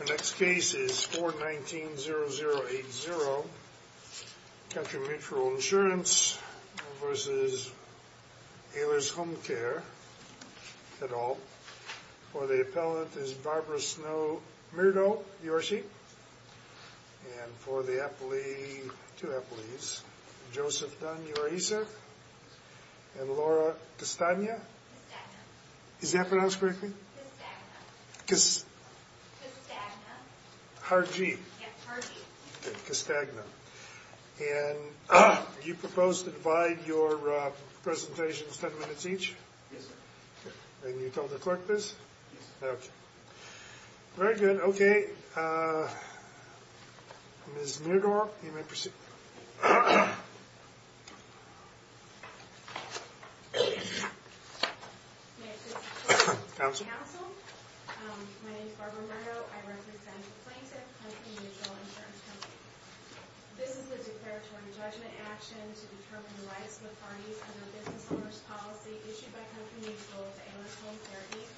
The next case is 419-0080, Country Mutual Insurance v. Oehler's Home Care, et al. For the appellant is Barbara Snow Myrtle, D.R.C. And for the appellee, two appellees, Joseph Dunn, D.R.C., and Laura Castagna? Is that pronounced correctly? Castagna. Castagna. Harjeet. Yes, Harjeet. Castagna. And you propose to divide your presentations ten minutes each? Yes, sir. And you told the clerk this? Yes, sir. Okay. Very good. Okay. Ms. Mirdorff, you may proceed. May it please the clerk and the counsel, my name is Barbara Myrtle. I represent the plaintiff, Country Mutual Insurance Company. This is a declaratory judgment action to determine the rights and authorities of a business owner's policy issued by Country Mutual to Oehler's Home Care, Inc.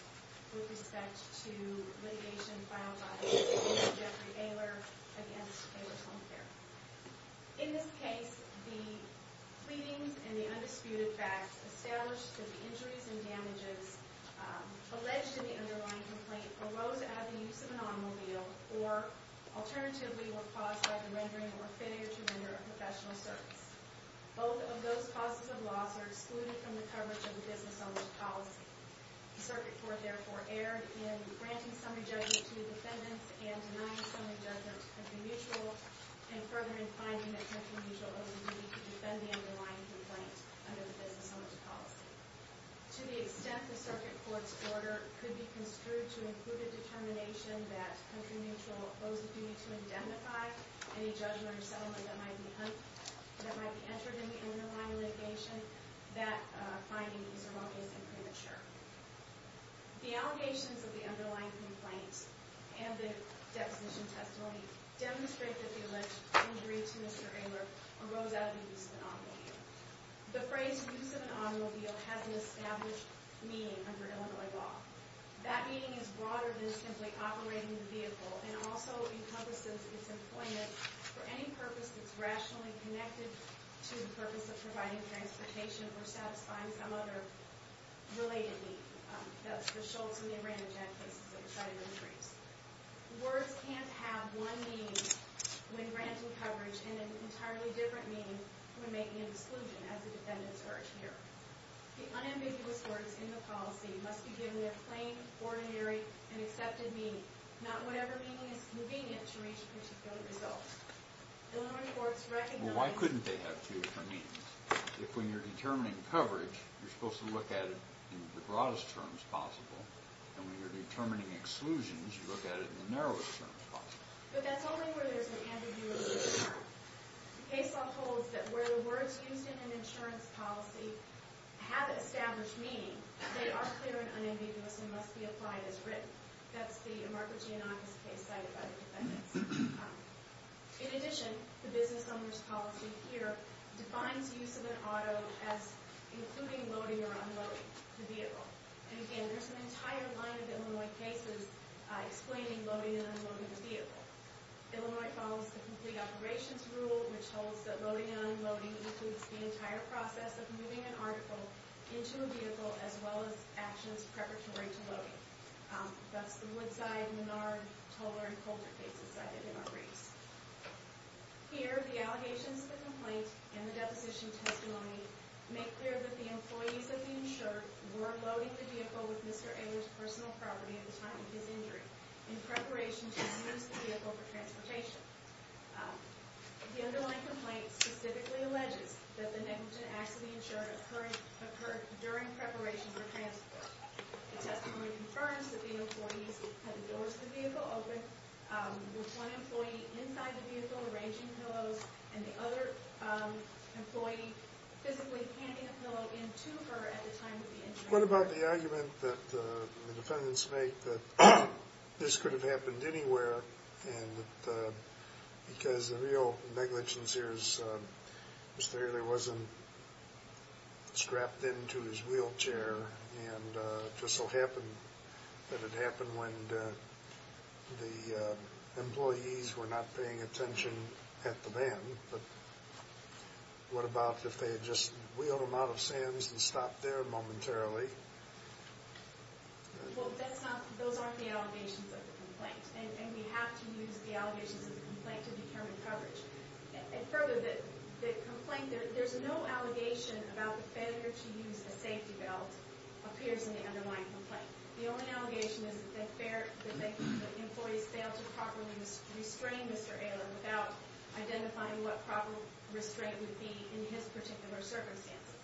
with respect to litigation filed by Mr. Jeffrey Oehler against Oehler's Home Care. In this case, the pleadings and the undisputed facts establish that the injuries and damages alleged in the underlying complaint arose out of the use of an automobile or, alternatively, were caused by the rendering or failure to render a professional service. Both of those causes of loss are excluded from the coverage of a business owner's policy. The circuit court, therefore, erred in granting summary judgment to the defendants and denying summary judgment to Country Mutual and further in finding that Country Mutual owes a duty to defend the underlying complaint under the business owner's policy. To the extent the circuit court's order could be construed to include a determination that Country Mutual owes a duty to identify any judgment or settlement that might be entered in the underlying litigation, that finding is a wrong case and premature. The allegations of the underlying complaint and the deposition testimony demonstrate that the alleged injury to Mr. Oehler arose out of the use of an automobile. The phrase, use of an automobile, has an established meaning under Illinois law. That meaning is broader than simply operating the vehicle and also encompasses its employment for any purpose that's rationally connected to the purpose of providing transportation or satisfying some other related need. That's the Schultz and the Aranajan cases that were cited in the briefs. Words can't have one meaning when granting coverage and an entirely different meaning when making an exclusion, as the defendants urge here. The unambiguous words in the policy must be given a plain, ordinary, and accepted meaning, not whatever meaning is convenient to reach a particular result. Illinois courts recognize... Well, why couldn't they have two different meanings? If when you're determining coverage, you're supposed to look at it in the broadest terms possible, and when you're determining exclusions, you look at it in the narrowest terms possible. But that's only where there's an ambiguity. The case law holds that where the words used in an insurance policy have an established meaning, they are clear and unambiguous and must be applied as written. That's the Amarco Giannakis case cited by the defendants. In addition, the business owners' policy here defines use of an auto as including loading or unloading the vehicle. And again, there's an entire line of Illinois cases explaining loading and unloading the vehicle. Illinois follows the complete operations rule, which holds that loading and unloading includes the entire process of moving an article into a vehicle, as well as actions preparatory to loading. That's the Woodside, Menard, Toler, and Colter cases cited in our briefs. Here, the allegations, the complaint, and the deposition testimony make clear that the employees of the insured were loading the vehicle with Mr. Ehlers' personal property at the time of his injury in preparation to dismiss the vehicle for transportation. The underlying complaint specifically alleges that the negligent acts of the insured occurred during preparation for transport. The testimony confirms that the employees had the doors to the vehicle open, with one employee inside the vehicle arranging pillows, and the other employee physically handing a pillow in to her at the time of the injury. What about the argument that the defendants make that this could have happened anywhere, and that because the real negligence here is Mr. Ehlers wasn't strapped in to his wheelchair, and it just so happened that it happened when the employees were not paying attention at the van, but what about if they had just wheeled him out of Sands and stopped there momentarily? Well, that's not, those aren't the allegations of the complaint, and we have to use the allegations of the complaint to determine coverage. And further, the complaint, there's no allegation about the failure to use a safety belt appears in the underlying complaint. The only allegation is that the employees failed to properly restrain Mr. Ehlers without identifying what proper restraint would be in his particular circumstances.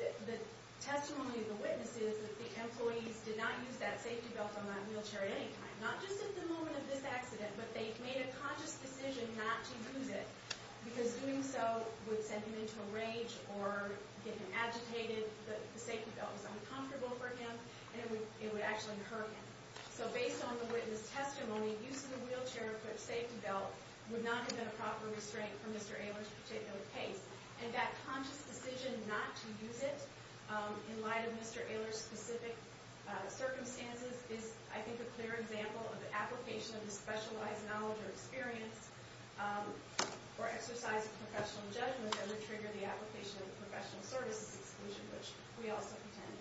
The testimony of the witness is that the employees did not use that safety belt on that wheelchair at any time, not just at the moment of this accident, but they made a conscious decision not to use it, because doing so would send him into a rage or get him agitated. The safety belt was uncomfortable for him, and it would actually hurt him. So based on the witness' testimony, use of the wheelchair equipped safety belt would not have been a proper restraint for Mr. Ehlers' particular case, and that conscious decision not to use it in light of Mr. Ehlers' specific circumstances is, I think, a clear example of the application of the specialized knowledge or experience or exercise of professional judgment that would trigger the application of professional services exclusion, which we also contend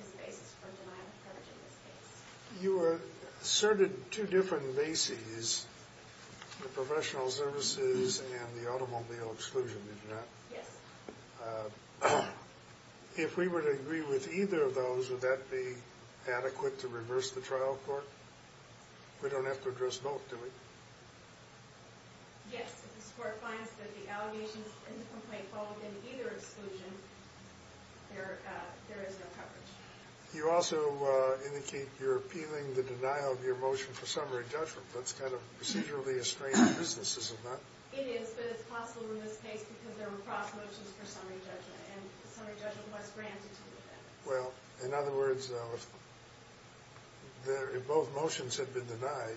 is the basis for denial of courage in this case. You asserted two different bases, the professional services and the automobile exclusion, did you not? Yes. If we were to agree with either of those, would that be adequate to reverse the trial court? We don't have to address both, do we? Yes, if the court finds that the allegations in the complaint fall within either exclusion, there is no coverage. You also indicate you're appealing the denial of your motion for summary judgment. That's kind of procedurally estranged business, is it not? It is, but it's possible in this case because there were cross motions for summary judgment, and the summary judgment was granted to the defendant. Well, in other words, if both motions had been denied,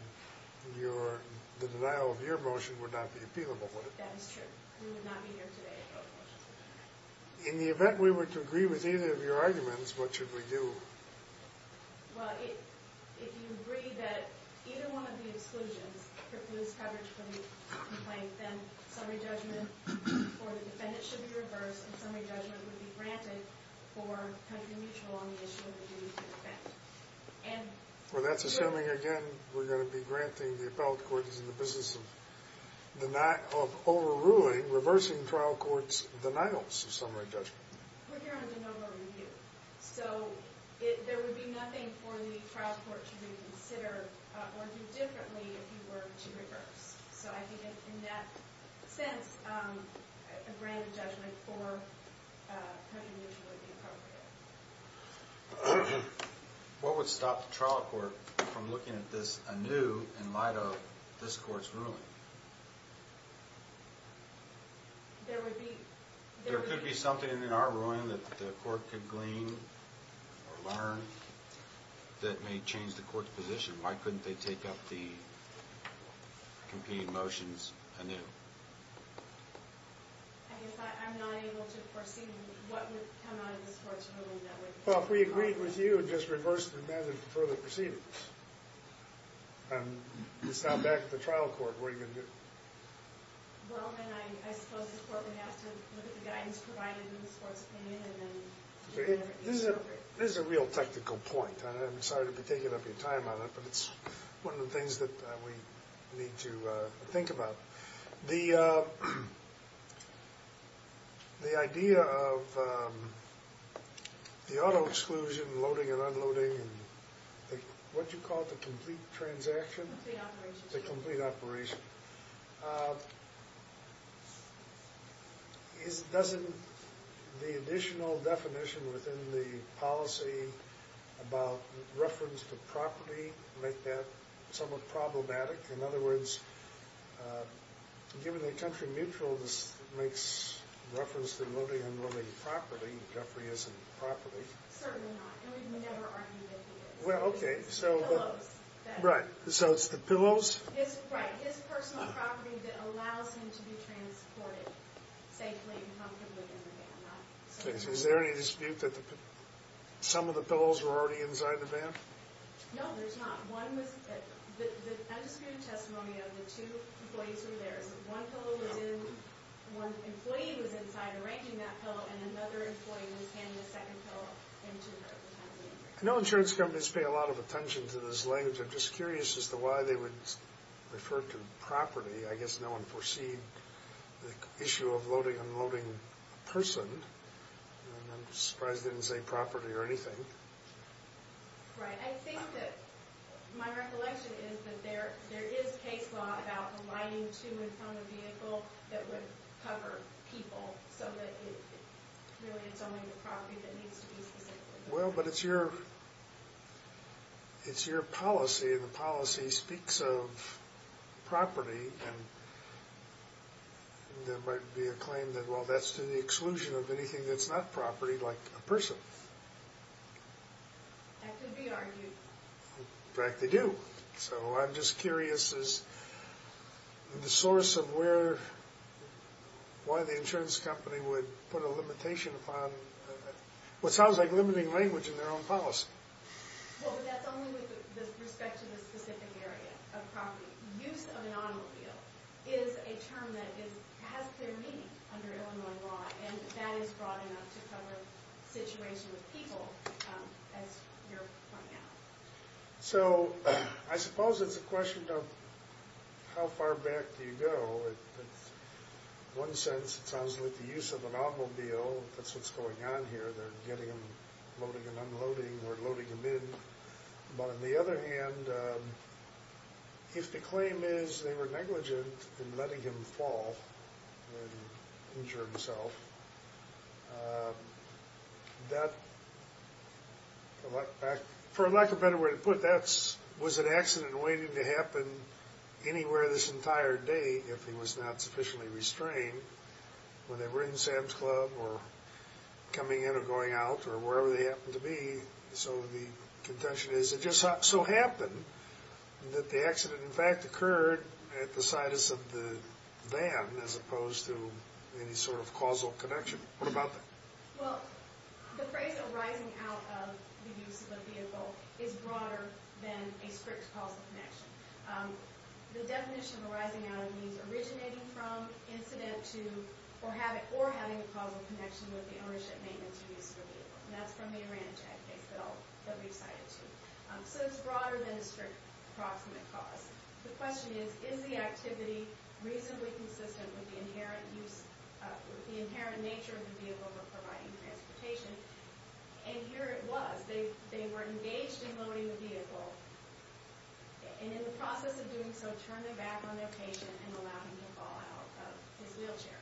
the denial of your motion would not be appealable, would it? That is true. We would not be here today if both motions were denied. In the event we were to agree with either of your arguments, what should we do? Well, if you agree that either one of the exclusions precludes coverage for the complaint, then summary judgment for the defendant should be reversed, and summary judgment would be granted for country mutual on the issue of the duty to defend. Well, that's assuming, again, we're going to be granting the appellate court in the business of overruling, reversing trial court's denials of summary judgment. We're here on de novo review, so there would be nothing for the trial court to reconsider or do differently if you were to reverse. So I think in that sense, a grand judgment for country mutual would be appropriate. What would stop the trial court from looking at this anew in light of this court's ruling? There could be something in our ruling that the court could glean or learn that may change the court's position. Why couldn't they take up the competing motions anew? I guess I'm not able to foresee what would come out of this court's ruling that would— Well, if we agreed with you and just reversed the method of further proceedings, and it's now back to the trial court, what are you going to do? Well, then I suppose the court would have to look at the guidance provided in this court's opinion and then— This is a real technical point. I'm sorry to be taking up your time on it, but it's one of the things that we need to think about. The idea of the auto-exclusion, loading and unloading, and what you call the complete transaction? Complete operation. The complete operation. Doesn't the additional definition within the policy about reference to property make that somewhat problematic? In other words, given the country mutual, this makes reference to loading and unloading property. Jeffrey isn't property. Certainly not. And we've never argued that he is. Well, okay. Pillows. Right. So it's the pillows? Right. His personal property that allows him to be transported safely and comfortably in the van. Is there any dispute that some of the pillows were already inside the van? No, there's not. One was—I just gave a testimony of the two employees who were there. One pillow was in—one employee was inside arranging that pillow, and another employee was handing a second pillow into the van. I know insurance companies pay a lot of attention to this language. I'm just curious as to why they would refer to property. I guess no one foresees the issue of loading and unloading a person. And I'm surprised they didn't say property or anything. Right. I think that my recollection is that there is case law about aligning to and from a vehicle that would cover people, so that really it's only the property that needs to be transported. Well, but it's your policy, and the policy speaks of property, and there might be a claim that, well, that's to the exclusion of anything that's not property, like a person. That could be argued. In fact, they do. So I'm just curious as to the source of where—why the insurance company would put a limitation upon— what sounds like limiting language in their own policy. Well, but that's only with respect to the specific area of property. Use of an automobile is a term that has clear meaning under Illinois law, and that is broad enough to cover situations with people, as you're pointing out. So I suppose it's a question of how far back do you go. In one sense, it sounds like the use of an automobile. That's what's going on here. They're getting them, loading and unloading, or loading them in. But on the other hand, if the claim is they were negligent in letting him fall and injure himself, that, for lack of a better way to put it, that was an accident waiting to happen anywhere this entire day if he was not sufficiently restrained, whether they were in Sam's Club or coming in or going out or wherever they happened to be. So the contention is it just so happened that the accident, in fact, occurred at the situs of the van as opposed to any sort of causal connection. What about that? Well, the phrase arising out of the use of a vehicle is broader than a strict causal connection. The definition of arising out of means originating from, incident to, or having a causal connection with the ownership, maintenance, or use of a vehicle. And that's from the Oranjec case that we cited, too. So it's broader than a strict approximate cause. The question is, is the activity reasonably consistent with the inherent nature of the vehicle we're providing transportation? And here it was. They were engaged in loading the vehicle and, in the process of doing so, turned it back on their patient and allowed him to fall out of his wheelchair.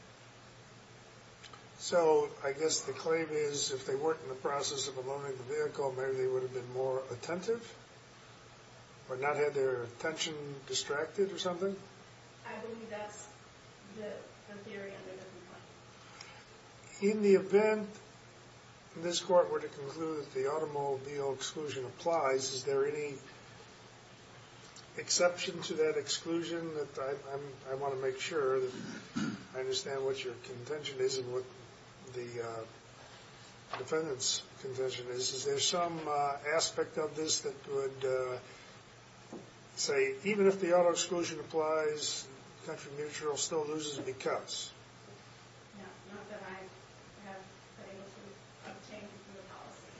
So I guess the claim is if they weren't in the process of unloading the vehicle, maybe they would have been more attentive or not had their attention distracted or something? I believe that's the theory under the complaint. In the event this Court were to conclude that the automobile exclusion applies, is there any exception to that exclusion? I want to make sure that I understand what your contention is and what the defendant's contention is. Is there some aspect of this that would say even if the auto exclusion applies, the country manager still loses because? No, not that I have been able to obtain from the policy.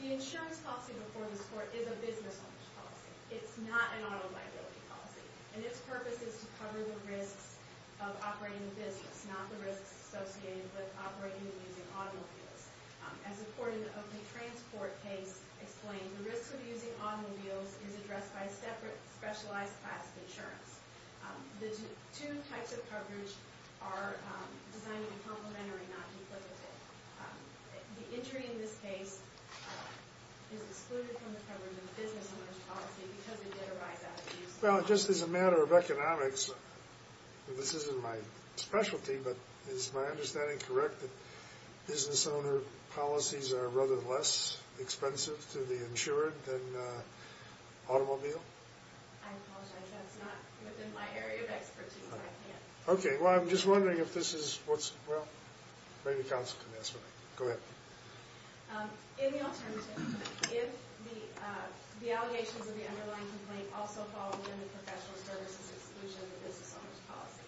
The insurance policy before this Court is a business-owned policy. It's not an auto liability policy. And its purpose is to cover the risks of operating a business, not the risks associated with operating and using automobiles. As a court in the Oakley Transport case explained, the risk of using automobiles is addressed by a separate specialized class of insurance. The two types of coverage are designed to be complementary, not duplicative. The injury in this case is excluded from the coverage of the business owners policy because it did arise out of use. Well, just as a matter of economics, this isn't my specialty, but is my understanding correct that business owner policies are rather less expensive to the insured than automobile? I apologize, that's not within my area of expertise. Okay, well, I'm just wondering if this is what's, well, maybe counsel can answer that. Go ahead. In the alternative, if the allegations of the underlying complaint also fall within the professional services exclusion of the business owners policy,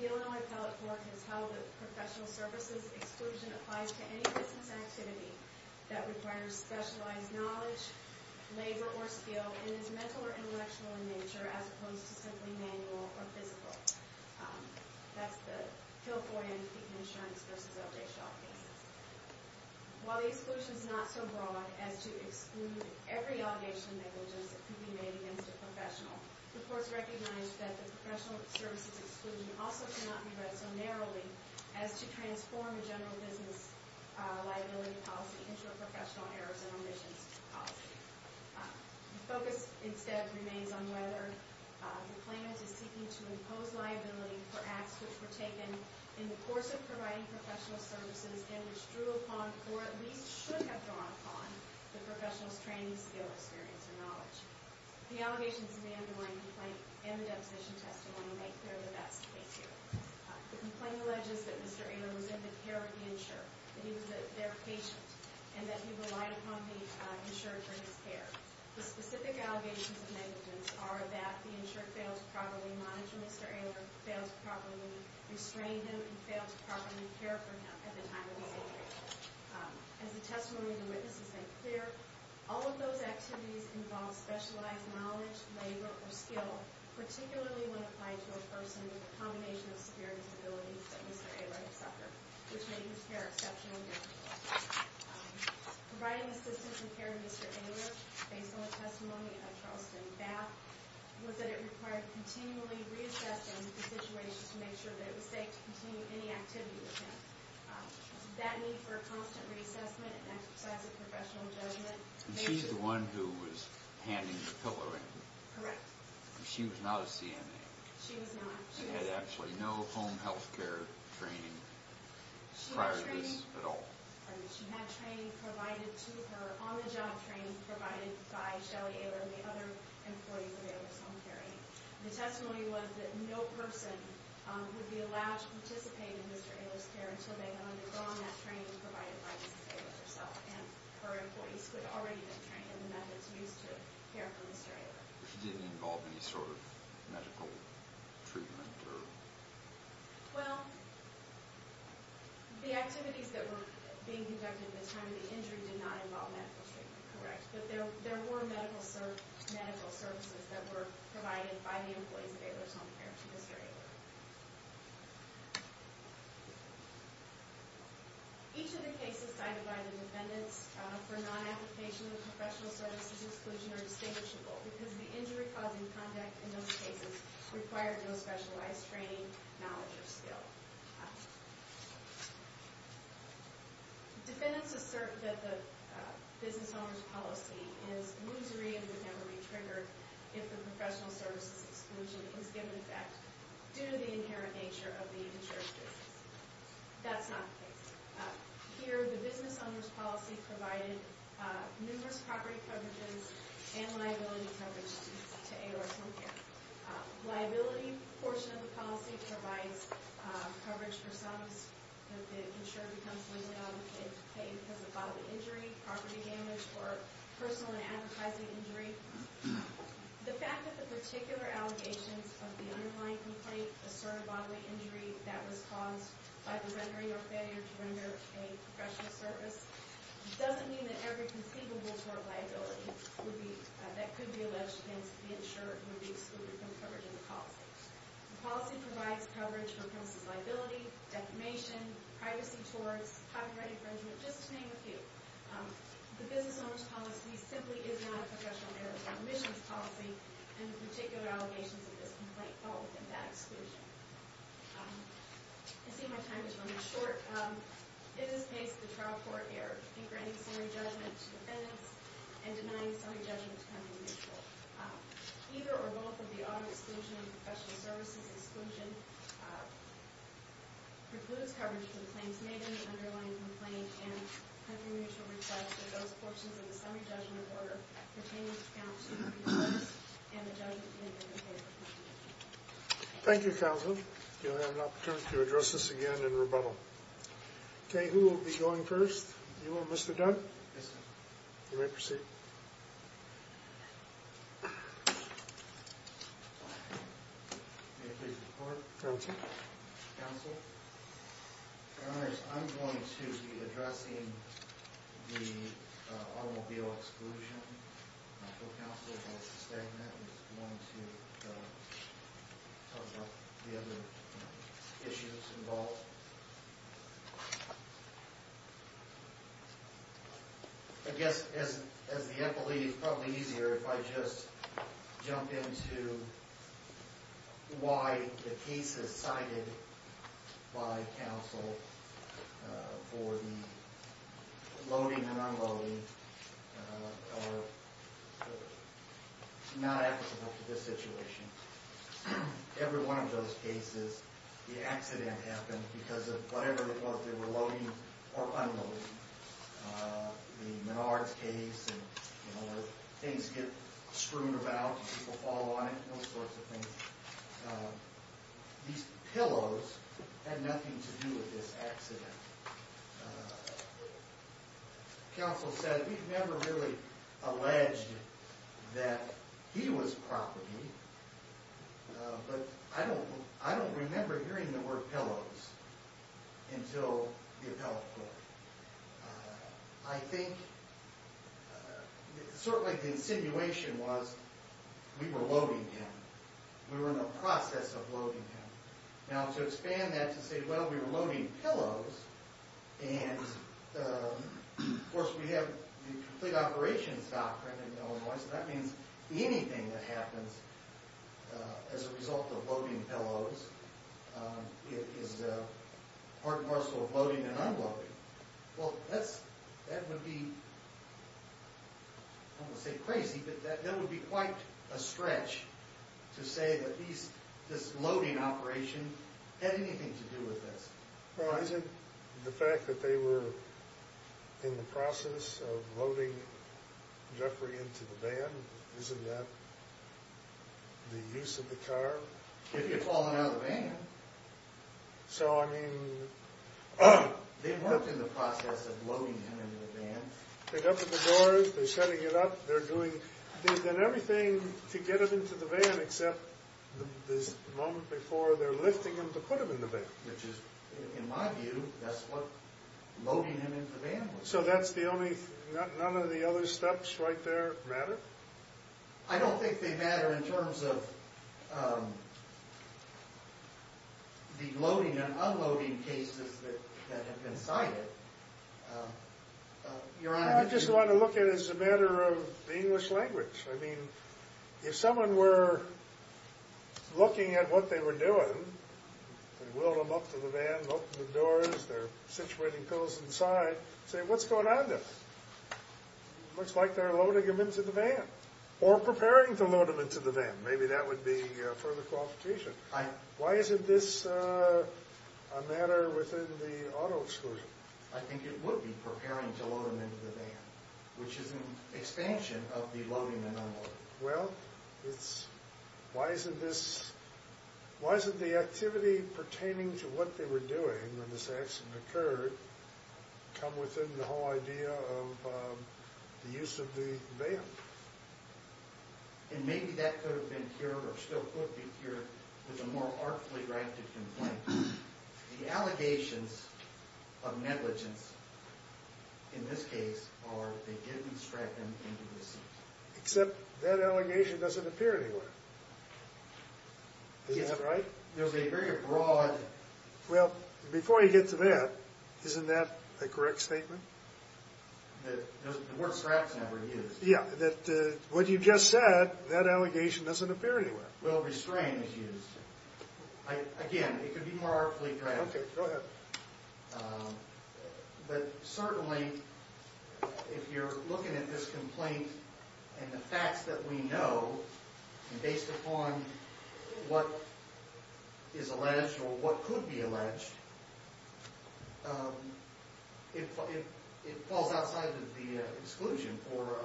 the Illinois Appellate Court has held that professional services exclusion applies to any business activity that requires specialized knowledge, labor, or skill, and is mental or intellectual in nature as opposed to simply manual or physical. That's the Hill-Foy and Keekman Assurance v. L.J. Shaw cases. While the exclusion is not so broad as to exclude every allegation of negligence that could be made against a professional, the courts recognize that the professional services exclusion also cannot be read so narrowly as to transform a general business liability policy into a professional errors and omissions policy. The focus, instead, remains on whether the plaintiff is seeking to impose liability for acts which were taken in the course of providing professional services and which drew upon, or at least should have drawn upon, the professional's training, skill, experience, or knowledge. The allegations of the underlying complaint and the deposition testimony make clear that that's the case here. The complaint alleges that Mr. Ehler was in the care of the insurer, that he was their patient, and that he relied upon the insurer for his care. The specific allegations of negligence are that the insurer failed to properly manage Mr. Ehler, failed to properly restrain him, and failed to properly care for him at the time of his injury. As the testimony of the witnesses make clear, all of those activities involve specialized knowledge, labor, or skill, particularly when applied to a person with a combination of severe disabilities that Mr. Ehler had suffered, which made his care exceptionally difficult. Providing assistance and care to Mr. Ehler, based on the testimony of Charleston Bath, was that it required continually reassessing the situation to make sure that it was safe to continue any activity with him. That need for a constant reassessment and exercise of professional judgment... And she's the one who was handing the pillow in. Correct. She was not a CNA. She was not. She had actually no home health care training prior to this at all. She had training provided to her, on-the-job training provided by Shelley Ehler and the other employees of Ehler's Home Care Aid. The testimony was that no person would be allowed to participate in Mr. Ehler's care until they had undergone that training provided by Mrs. Ehler herself, and her employees could already have trained in the methods used to care for Mr. Ehler. She didn't involve any sort of medical treatment or... Well, the activities that were being conducted at the time of the injury did not involve medical treatment, correct? But there were medical services that were provided by the employees of Ehler's Home Care to Mr. Ehler. Each of the cases cited by the defendants for non-application of professional services exclusion are distinguishable because the injury-causing conduct in those cases required no specialized training, knowledge, or skill. Defendants assert that the business owner's policy is lusory and would never be triggered if the professional services exclusion was given effect due to the inherent nature of the insurance business. That's not the case. Here, the business owner's policy provided numerous property coverages and liability coverages to Ehler's Home Care. Liability portion of the policy provides coverage for sums that the insurer becomes liable to pay because of bodily injury, property damage, or personal and advertising injury. The fact that the particular allegations of the underlying complaint assert a bodily injury that was caused by the rendering or failure to render a professional service doesn't mean that every conceivable form of liability that could be alleged against the insurer would be excluded from coverage in the policy. The policy provides coverage for premises liability, defamation, privacy towards copyright infringement, just to name a few. The business owner's policy simply is not a professional errors or omissions policy and the particular allegations of this complaint fall within that exclusion. I see my time is running short. It is based on the trial court error in granting summary judgment to defendants and denying summary judgment to company mutual. Either or both of the auto exclusion and professional services exclusion precludes coverage for the claims made in the underlying complaint and having mutual reply to those portions of the summary judgment order pertaining to the counts of the previous case and the judgment made in the paper. Thank you, counsel. You'll have an opportunity to address this again in rebuttal. Okay, who will be going first? You will, Mr. Dunn? Yes, sir. You may proceed. May I please report? Counsel. Counsel. Your honors, I'm going to be addressing the automobile exclusion. My co-counsel, Mr. Stagnant, is going to talk about the other issues involved. I guess, as the employee, it's probably easier if I just jump into why the cases cited by counsel for the loading and unloading are not applicable to this situation. Every one of those cases, the accident happened because of whatever it was they were loading or unloading. The Menards case, where things get screwed about and people fall on it, those sorts of things. These pillows had nothing to do with this accident. Counsel said, we've never really alleged that he was property, but I don't remember hearing the word pillows until the appellate court. I think, certainly the insinuation was we were loading him. We were in the process of loading him. Now, to expand that to say, well, we were loading pillows, and of course, we have the complete operations doctrine in Illinois, so that means anything that happens as a result of loading pillows is part and parcel of loading and unloading. Well, that would be, I don't want to say crazy, but that would be quite a stretch to say that this loading operation had anything to do with this. Well, is it the fact that they were in the process of loading Jeffrey into the van? Isn't that the use of the car? If you'd fallen out of the van. They worked in the process of loading him into the van. They opened the doors, they're shutting it up, they're doing everything to get him into the van, except this moment before, they're lifting him to put him in the van. Which is, in my view, that's what loading him into the van was. So that's the only, none of the other steps right there matter? I don't think they matter in terms of the loading and unloading cases that have been cited. I just want to look at it as a matter of the English language. I mean, if someone were looking at what they were doing, they wheeled him up to the van, opened the doors, they're situating pillows inside, say, what's going on there? Much like they're loading him into the van. Or preparing to load him into the van. Maybe that would be further qualification. Why isn't this a matter within the auto exclusion? I think it would be preparing to load him into the van, which is an expansion of the loading and unloading. Well, it's, why isn't this, why isn't the activity pertaining to what they were doing when this accident occurred come within the whole idea of the use of the van? And maybe that could have been cured or still could be cured with a more artfully drafted complaint. The allegations of negligence, in this case, are that they didn't strap him into the seat. Except that allegation doesn't appear anywhere. Is that right? There's a very broad... Well, before you get to that, isn't that a correct statement? The word straps never used. Yeah, that what you just said, that allegation doesn't appear anywhere. Well, restraining is used. Again, it could be more artfully drafted. Okay, go ahead. But certainly, if you're looking at this complaint and the facts that we know, based upon what is alleged or what could be alleged, it falls outside of the exclusion for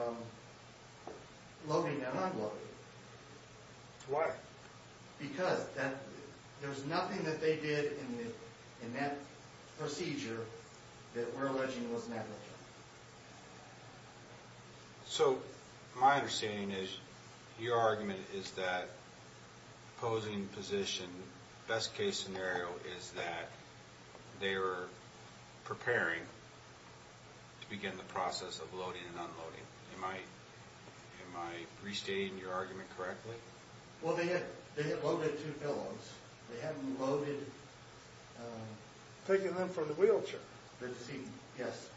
loading and unloading. Why? Because there's nothing that they did in that procedure that we're alleging was negligent. So my understanding is your argument is that opposing position, best case scenario, is that they were preparing to begin the process of loading and unloading. Am I restating your argument correctly? Well, they had loaded two pillows. They hadn't loaded... Taking them from the wheelchair. Yes.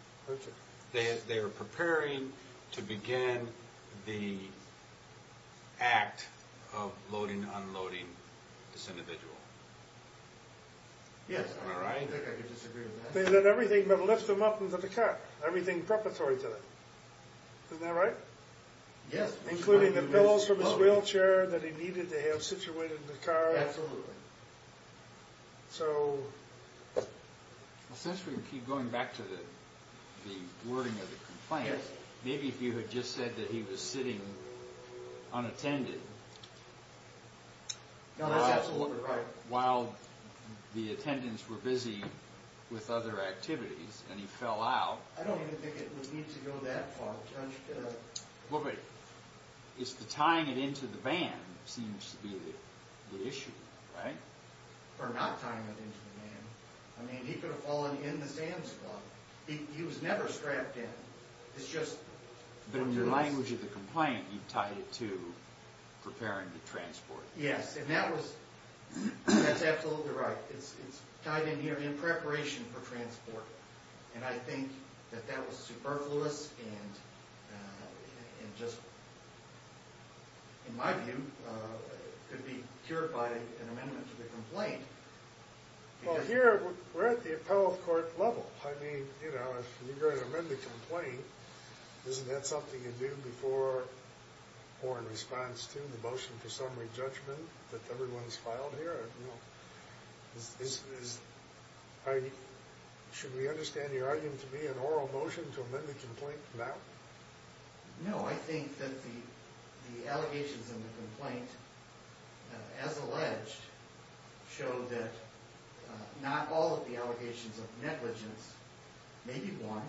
They were preparing to begin the act of loading and unloading this individual. Yes. Am I right? I think I could disagree with that. They did everything but lift them up into the car, everything preparatory to that. Isn't that right? Yes. Including the pillows from his wheelchair that he needed to have situated in the car. Absolutely. So... Since we keep going back to the wording of the complaint, maybe if you had just said that he was sitting unattended... No, that's absolutely right. ...while the attendants were busy with other activities and he fell out... I don't even think it would need to go that far. Well, but tying it into the van seems to be the issue, right? Or not tying it into the van. I mean, he could have fallen in the sand slot. He was never strapped in. It's just... But in the language of the complaint, you tied it to preparing the transport. Yes. And that was... That's absolutely right. It's tied in here in preparation for transport. And I think that that was superfluous and just, in my view, could be cured by an amendment to the complaint. Well, here we're at the appellate court level. I mean, you know, if you're going to amend the complaint, isn't that something you do before or in response to the motion for summary judgment that everyone's filed here? Should we understand your argument to be an oral motion to amend the complaint now? No. I think that the allegations in the complaint, as alleged, show that not all of the allegations of negligence, maybe one,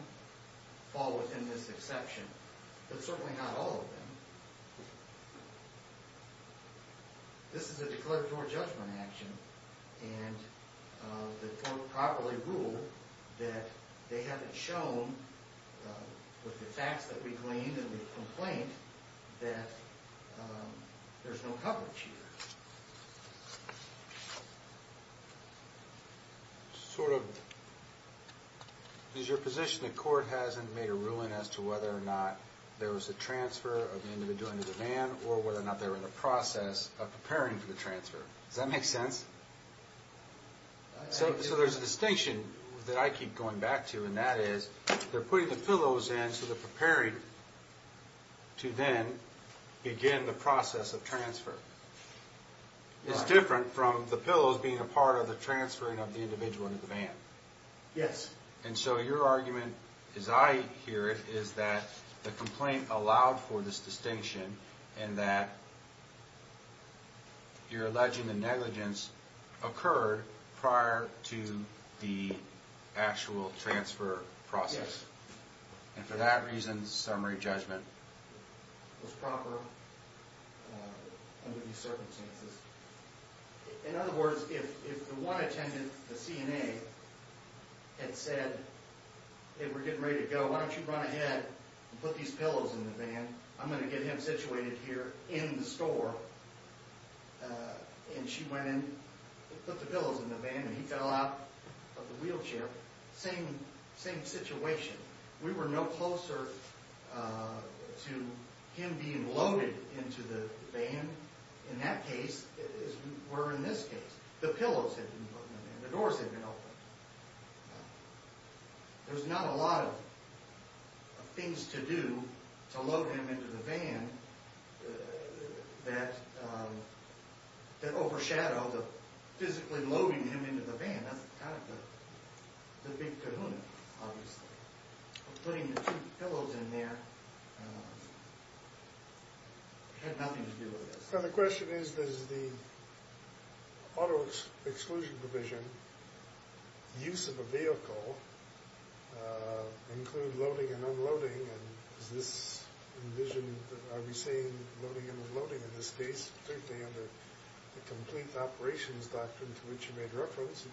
fall within this exception, but certainly not all of them. This is a declaratory judgment action, and the court properly ruled that they haven't shown, with the facts that we claim in the complaint, that there's no coverage here. Sort of, is your position the court hasn't made a ruling as to whether or not there was a transfer of the individual into the van, or whether or not they were in the process of preparing for the transfer? Does that make sense? So there's a distinction that I keep going back to, and that is, they're putting the pillows in so they're preparing to then begin the process of transfer. It's different from the pillows being a part of the transferring of the individual into the van. Yes. And so your argument, as I hear it, is that the complaint allowed for this distinction, and that your alleging the negligence occurred prior to the actual transfer process. Yes. And for that reason, the summary judgment was proper under these circumstances. In other words, if the one attendant, the CNA, had said, hey, we're getting ready to go, why don't you run ahead and put these pillows in the van, I'm going to get him situated here in the store, and she went in, put the pillows in the van, and he fell out of the wheelchair, same situation. We were no closer to him being loaded into the van. In that case, as we were in this case, the pillows had been put in the van, the doors had been opened. There was not a lot of things to do to load him into the van that overshadowed the physically loading him into the van. That's kind of the big kahuna, obviously. Putting the two pillows in there had nothing to do with this. The question is, does the auto exclusion provision, use of a vehicle, include loading and unloading, and is this envisioned, are we seeing loading and unloading in this case, particularly under the complete operations doctrine to which you made reference?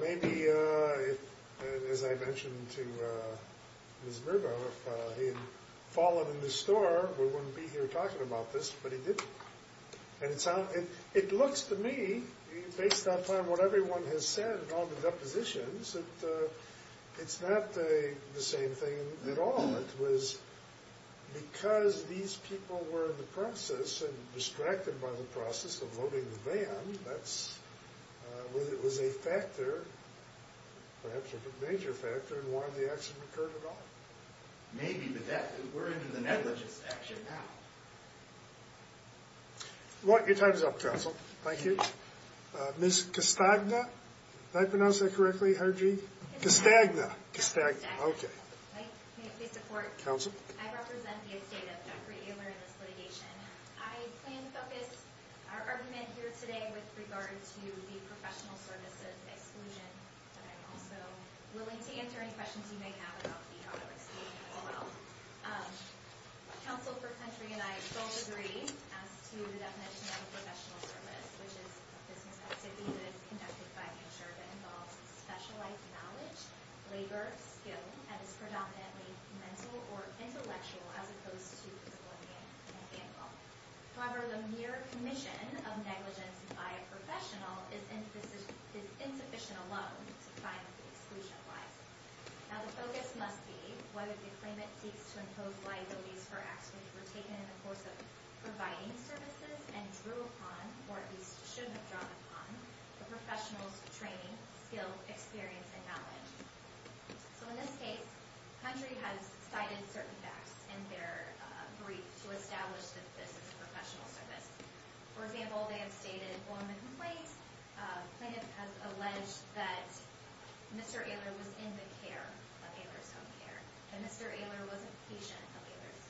Maybe, as I mentioned to Ms. Mirbo, if he had fallen in the store, we wouldn't be here talking about this, but he didn't. It looks to me, based on what everyone has said on the depositions, it's not the same thing at all. It was because these people were in the process, and distracted by the process of loading the van, that's whether it was a factor, perhaps a major factor, in why the accident occurred at all. Maybe, but we're into the negligence action now. Your time is up, counsel. Thank you. Ms. Costagna, did I pronounce that correctly, Harjit? Costagna. May I please report? Counsel. I represent the estate of Jeffrey Ehler in this litigation. I plan to focus our argument here today with regard to the professional services exclusion, but I'm also willing to answer any questions you may have about the auto exclusion as well. Counsel, first country, and I both agree as to the definition of a professional service, which is a business activity that is conducted by an insurer that involves specialized knowledge, labor, skill, and is predominantly mental or intellectual, as opposed to disciplinary and legal. However, the mere commission of negligence by a professional is insufficient alone to find the exclusion of liabilities. Now, the focus must be whether the claimant seeks to impose liabilities for acts which were taken in the course of providing services and drew upon, or at least shouldn't have drawn upon, the professional's training, skill, experience, and knowledge. So in this case, country has cited certain facts in their brief to establish that this is a professional service. For example, they have stated, on the complaint, plaintiff has alleged that Mr. Ehler was in the care of Ehler's Home Care, and Mr. Ehler was a patient of Ehler's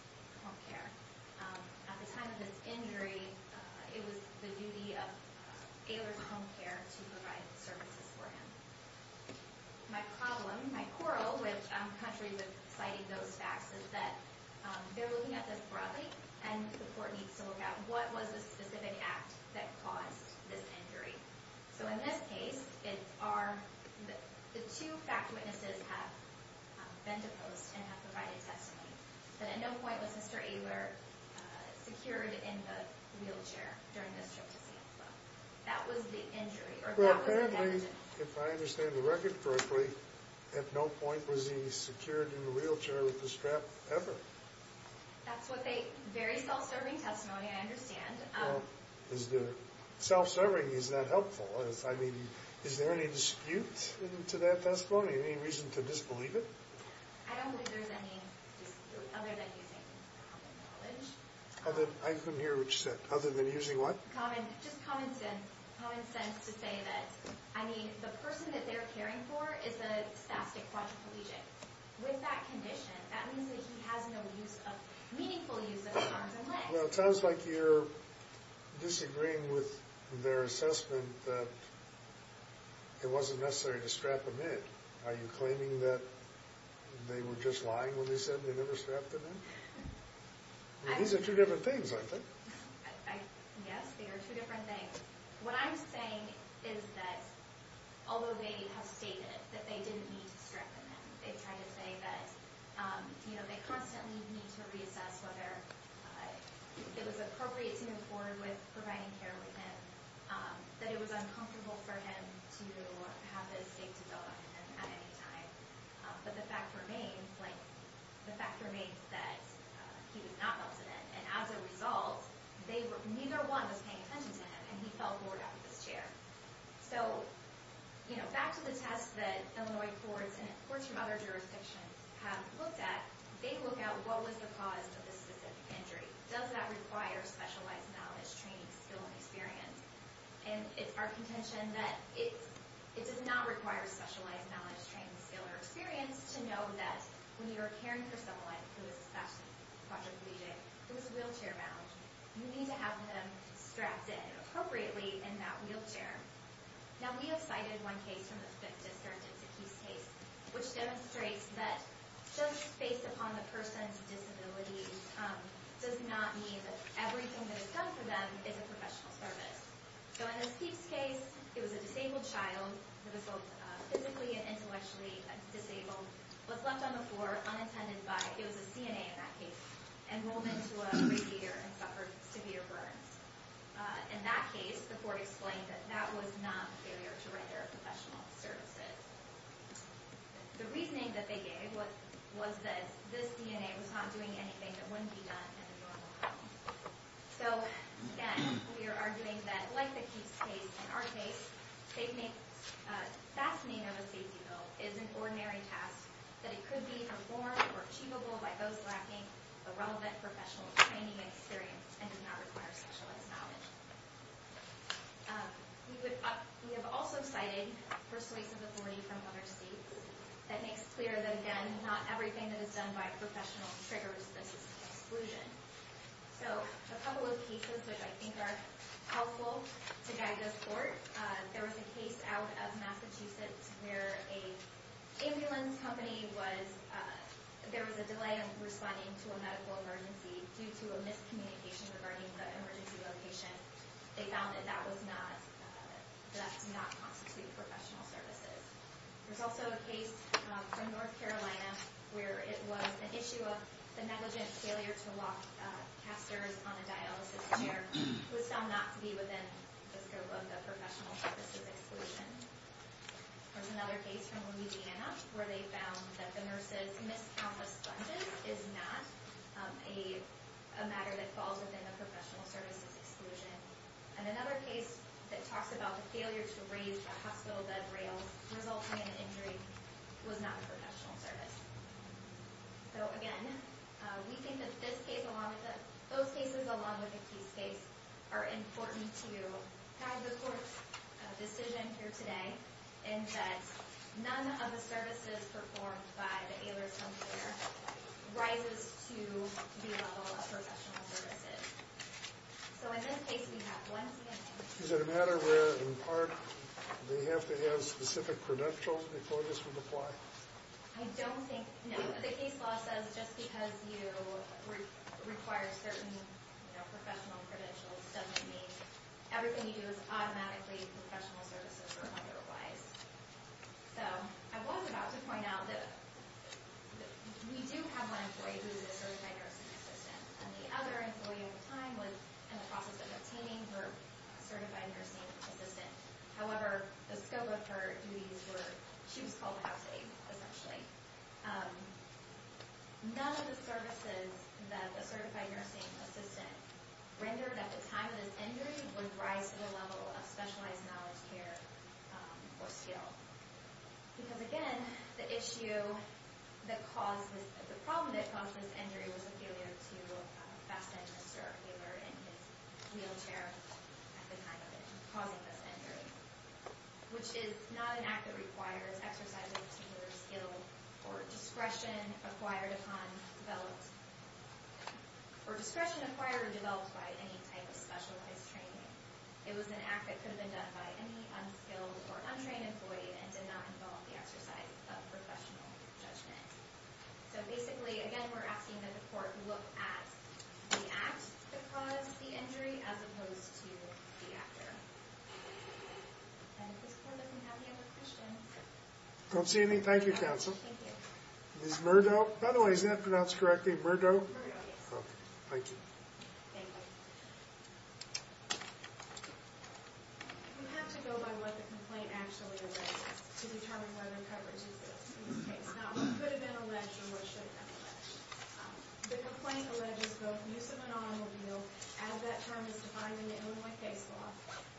Home Care. At the time of this injury, it was the duty of Ehler's Home Care to provide services for him. My problem, my quarrel with countries that cited those facts is that they're looking at this broadly, and the court needs to look at what was the specific act that caused this injury. So in this case, the two fact witnesses have been deposed and have provided testimony, but at no point was Mr. Ehler secured in the wheelchair during this trip to San Francisco. Apparently, if I understand the record correctly, at no point was he secured in the wheelchair with the strap ever. That's what they, very self-serving testimony, I understand. Well, is the self-serving, is that helpful? I mean, is there any dispute to that testimony, any reason to disbelieve it? I don't believe there's any, other than using common knowledge. I couldn't hear what you said. Other than using what? Common, just common sense to say that, I mean, the person that they're caring for is a spastic quadriplegic. With that condition, that means that he has no use of, meaningful use of his arms and legs. Well, it sounds like you're disagreeing with their assessment that it wasn't necessary to strap him in. Are you claiming that they were just lying when they said they never strapped him in? These are two different things, I think. Yes, they are two different things. What I'm saying is that, although they have stated that they didn't need to strap him in, they tried to say that, you know, they constantly need to reassess whether it was appropriate to move forward with providing care with him, that it was uncomfortable for him to have his safety belt on him at any time. But the fact remains, like, the fact remains that he was not melted in. And as a result, neither one was paying attention to him, and he fell forward out of his chair. So, you know, back to the test that Illinois courts and courts from other jurisdictions have looked at, they look at what was the cause of this specific injury. Does that require specialized knowledge, training, skill, and experience? And it's our contention that it does not require specialized knowledge, training, skill, or experience to know that when you are caring for someone who is spasmodic, quadriplegic, who is wheelchair-bound, you need to have them strapped in appropriately in that wheelchair. Now, we have cited one case from the Fifth District. It's a Keeps case, which demonstrates that just based upon the person's disability does not mean that everything that is done for them is a professional service. So in this Keeps case, it was a disabled child who was both physically and intellectually disabled, was left on the floor unintended by, it was a CNA in that case, and rolled into a radiator and suffered severe burns. In that case, the court explained that that was not failure to render professional services. The reasoning that they gave was that this CNA was not doing anything that wouldn't be done in a normal home. So, again, we are arguing that, like the Keeps case, in our case, fascinating of a safety bill is an ordinary task, that it could be performed or achievable by those lacking the relevant professional training and experience and do not require specialized knowledge. We have also cited persuasive authority from other states. That makes clear that, again, not everything that is done by professionals triggers this exclusion. So a couple of cases which I think are helpful to guide this court. There was a case out of Massachusetts where an ambulance company was, there was a delay in responding to a medical emergency due to a miscommunication regarding the emergency location. They found that that was not, that did not constitute professional services. There's also a case from North Carolina where it was an issue of the negligent failure to lock casters on a dialysis chair was found not to be within the scope of the professional services exclusion. There's another case from Louisiana where they found that the nurses missed countless sponges is not a matter that falls within the professional services exclusion. And another case that talks about the failure to raise the hospital bed rails resulting in an injury was not a professional service. So, again, we think that this case along with the, those cases along with the case case are important to guide the court's decision here today in that none of the services performed by the ailer's home care rises to the level of professional services. So in this case we have one... Is it a matter where in part they have to have specific credentials before this would apply? I don't think, no. The case law says just because you require certain professional credentials doesn't mean everything you do is automatically professional services or otherwise. So, I was about to point out that we do have one employee who is a certified nursing assistant and the other employee at the time was in the process of obtaining her certified nursing assistant. However, the scope of her duties were, she was called out safe, essentially. None of the services that the certified nursing assistant rendered at the time of this injury would rise to the level of specialized knowledge care or skill. Because, again, the issue that caused this, the problem that caused this injury was a failure to fasten a stirrup tailor in his wheelchair at the time of it, causing this injury, which is not an act that requires exercise of a particular skill or discretion acquired upon, developed, or discretion acquired or developed by any type of specialized training. It was an act that could have been done by any unskilled or untrained employee and did not involve the exercise of professional judgment. So, basically, again, we're asking that the court look at the act that caused the injury as opposed to the actor. And if this court doesn't have any other questions... I don't see any. Thank you, counsel. Ms. Murdo? By the way, is that pronounced correctly? Murdo? Murdo, yes. Okay. Thank you. Thank you. You have to go by what the complaint actually alleges to determine whether coverage exists in this case, not what could have been alleged or what should have been alleged. The complaint alleges both use of an automobile, as that term is defined in the Illinois case law,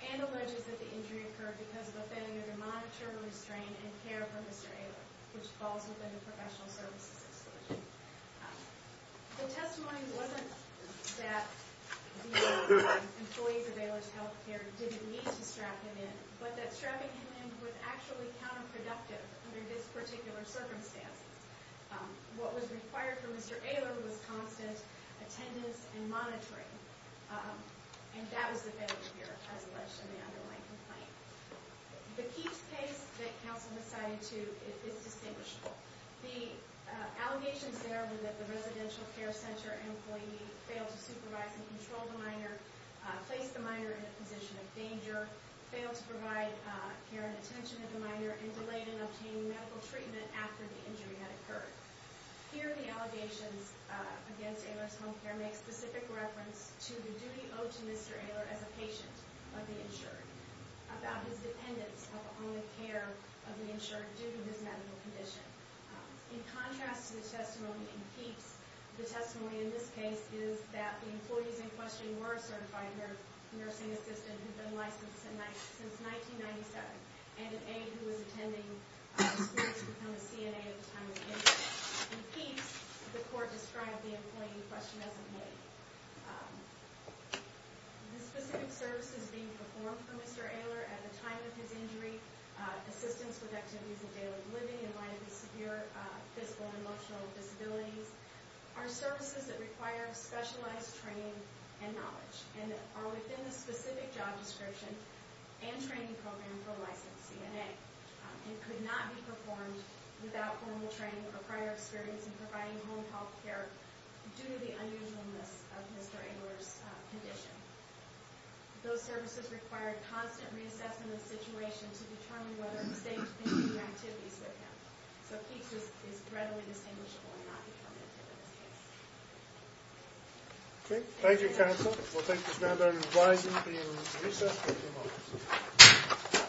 and alleges that the injury occurred because of a failure to monitor, restrain, and care for Mr. Aylor, which falls within the professional services decision. The testimony wasn't that the employees of Aylor's Health Care didn't need to strap him in, but that strapping him in was actually counterproductive under this particular circumstance. What was required for Mr. Aylor was constant attendance and monitoring. And that was the failure here, as alleged in the Illinois complaint. The Keats case that counsel decided to is distinguishable. The allegations there were that the residential care center employee failed to supervise and control the minor, placed the minor in a position of danger, failed to provide care and attention to the minor, and delayed in obtaining medical treatment after the injury had occurred. Here, the allegations against Aylor's Home Care make specific reference to the duty owed to Mr. Aylor as a patient of the insured, about his dependence upon the care of the insured due to his medical condition. In contrast to the testimony in Keats, the testimony in this case is that the employees in question were a certified nursing assistant who had been licensed since 1997, and an aide who was attending the school to become a CNA at the time of the injury. In Keats, the court described the employee in question as an aide. The specific services being performed for Mr. Aylor at the time of his injury, assistance with activities of daily living in light of his severe physical and emotional disabilities, are services that require specialized training and knowledge, and are within the specific job description and training program for a licensed CNA. It could not be performed without formal training or prior experience in providing home health care due to the unusualness of Mr. Aylor's condition. Those services required constant reassessment of the situation to determine whether it was safe to continue activities with him. So Keats is readily distinguishable and not determined in this case. Okay. Thank you, counsel. We'll thank Ms. Mander and advise you to be in recess for a few moments.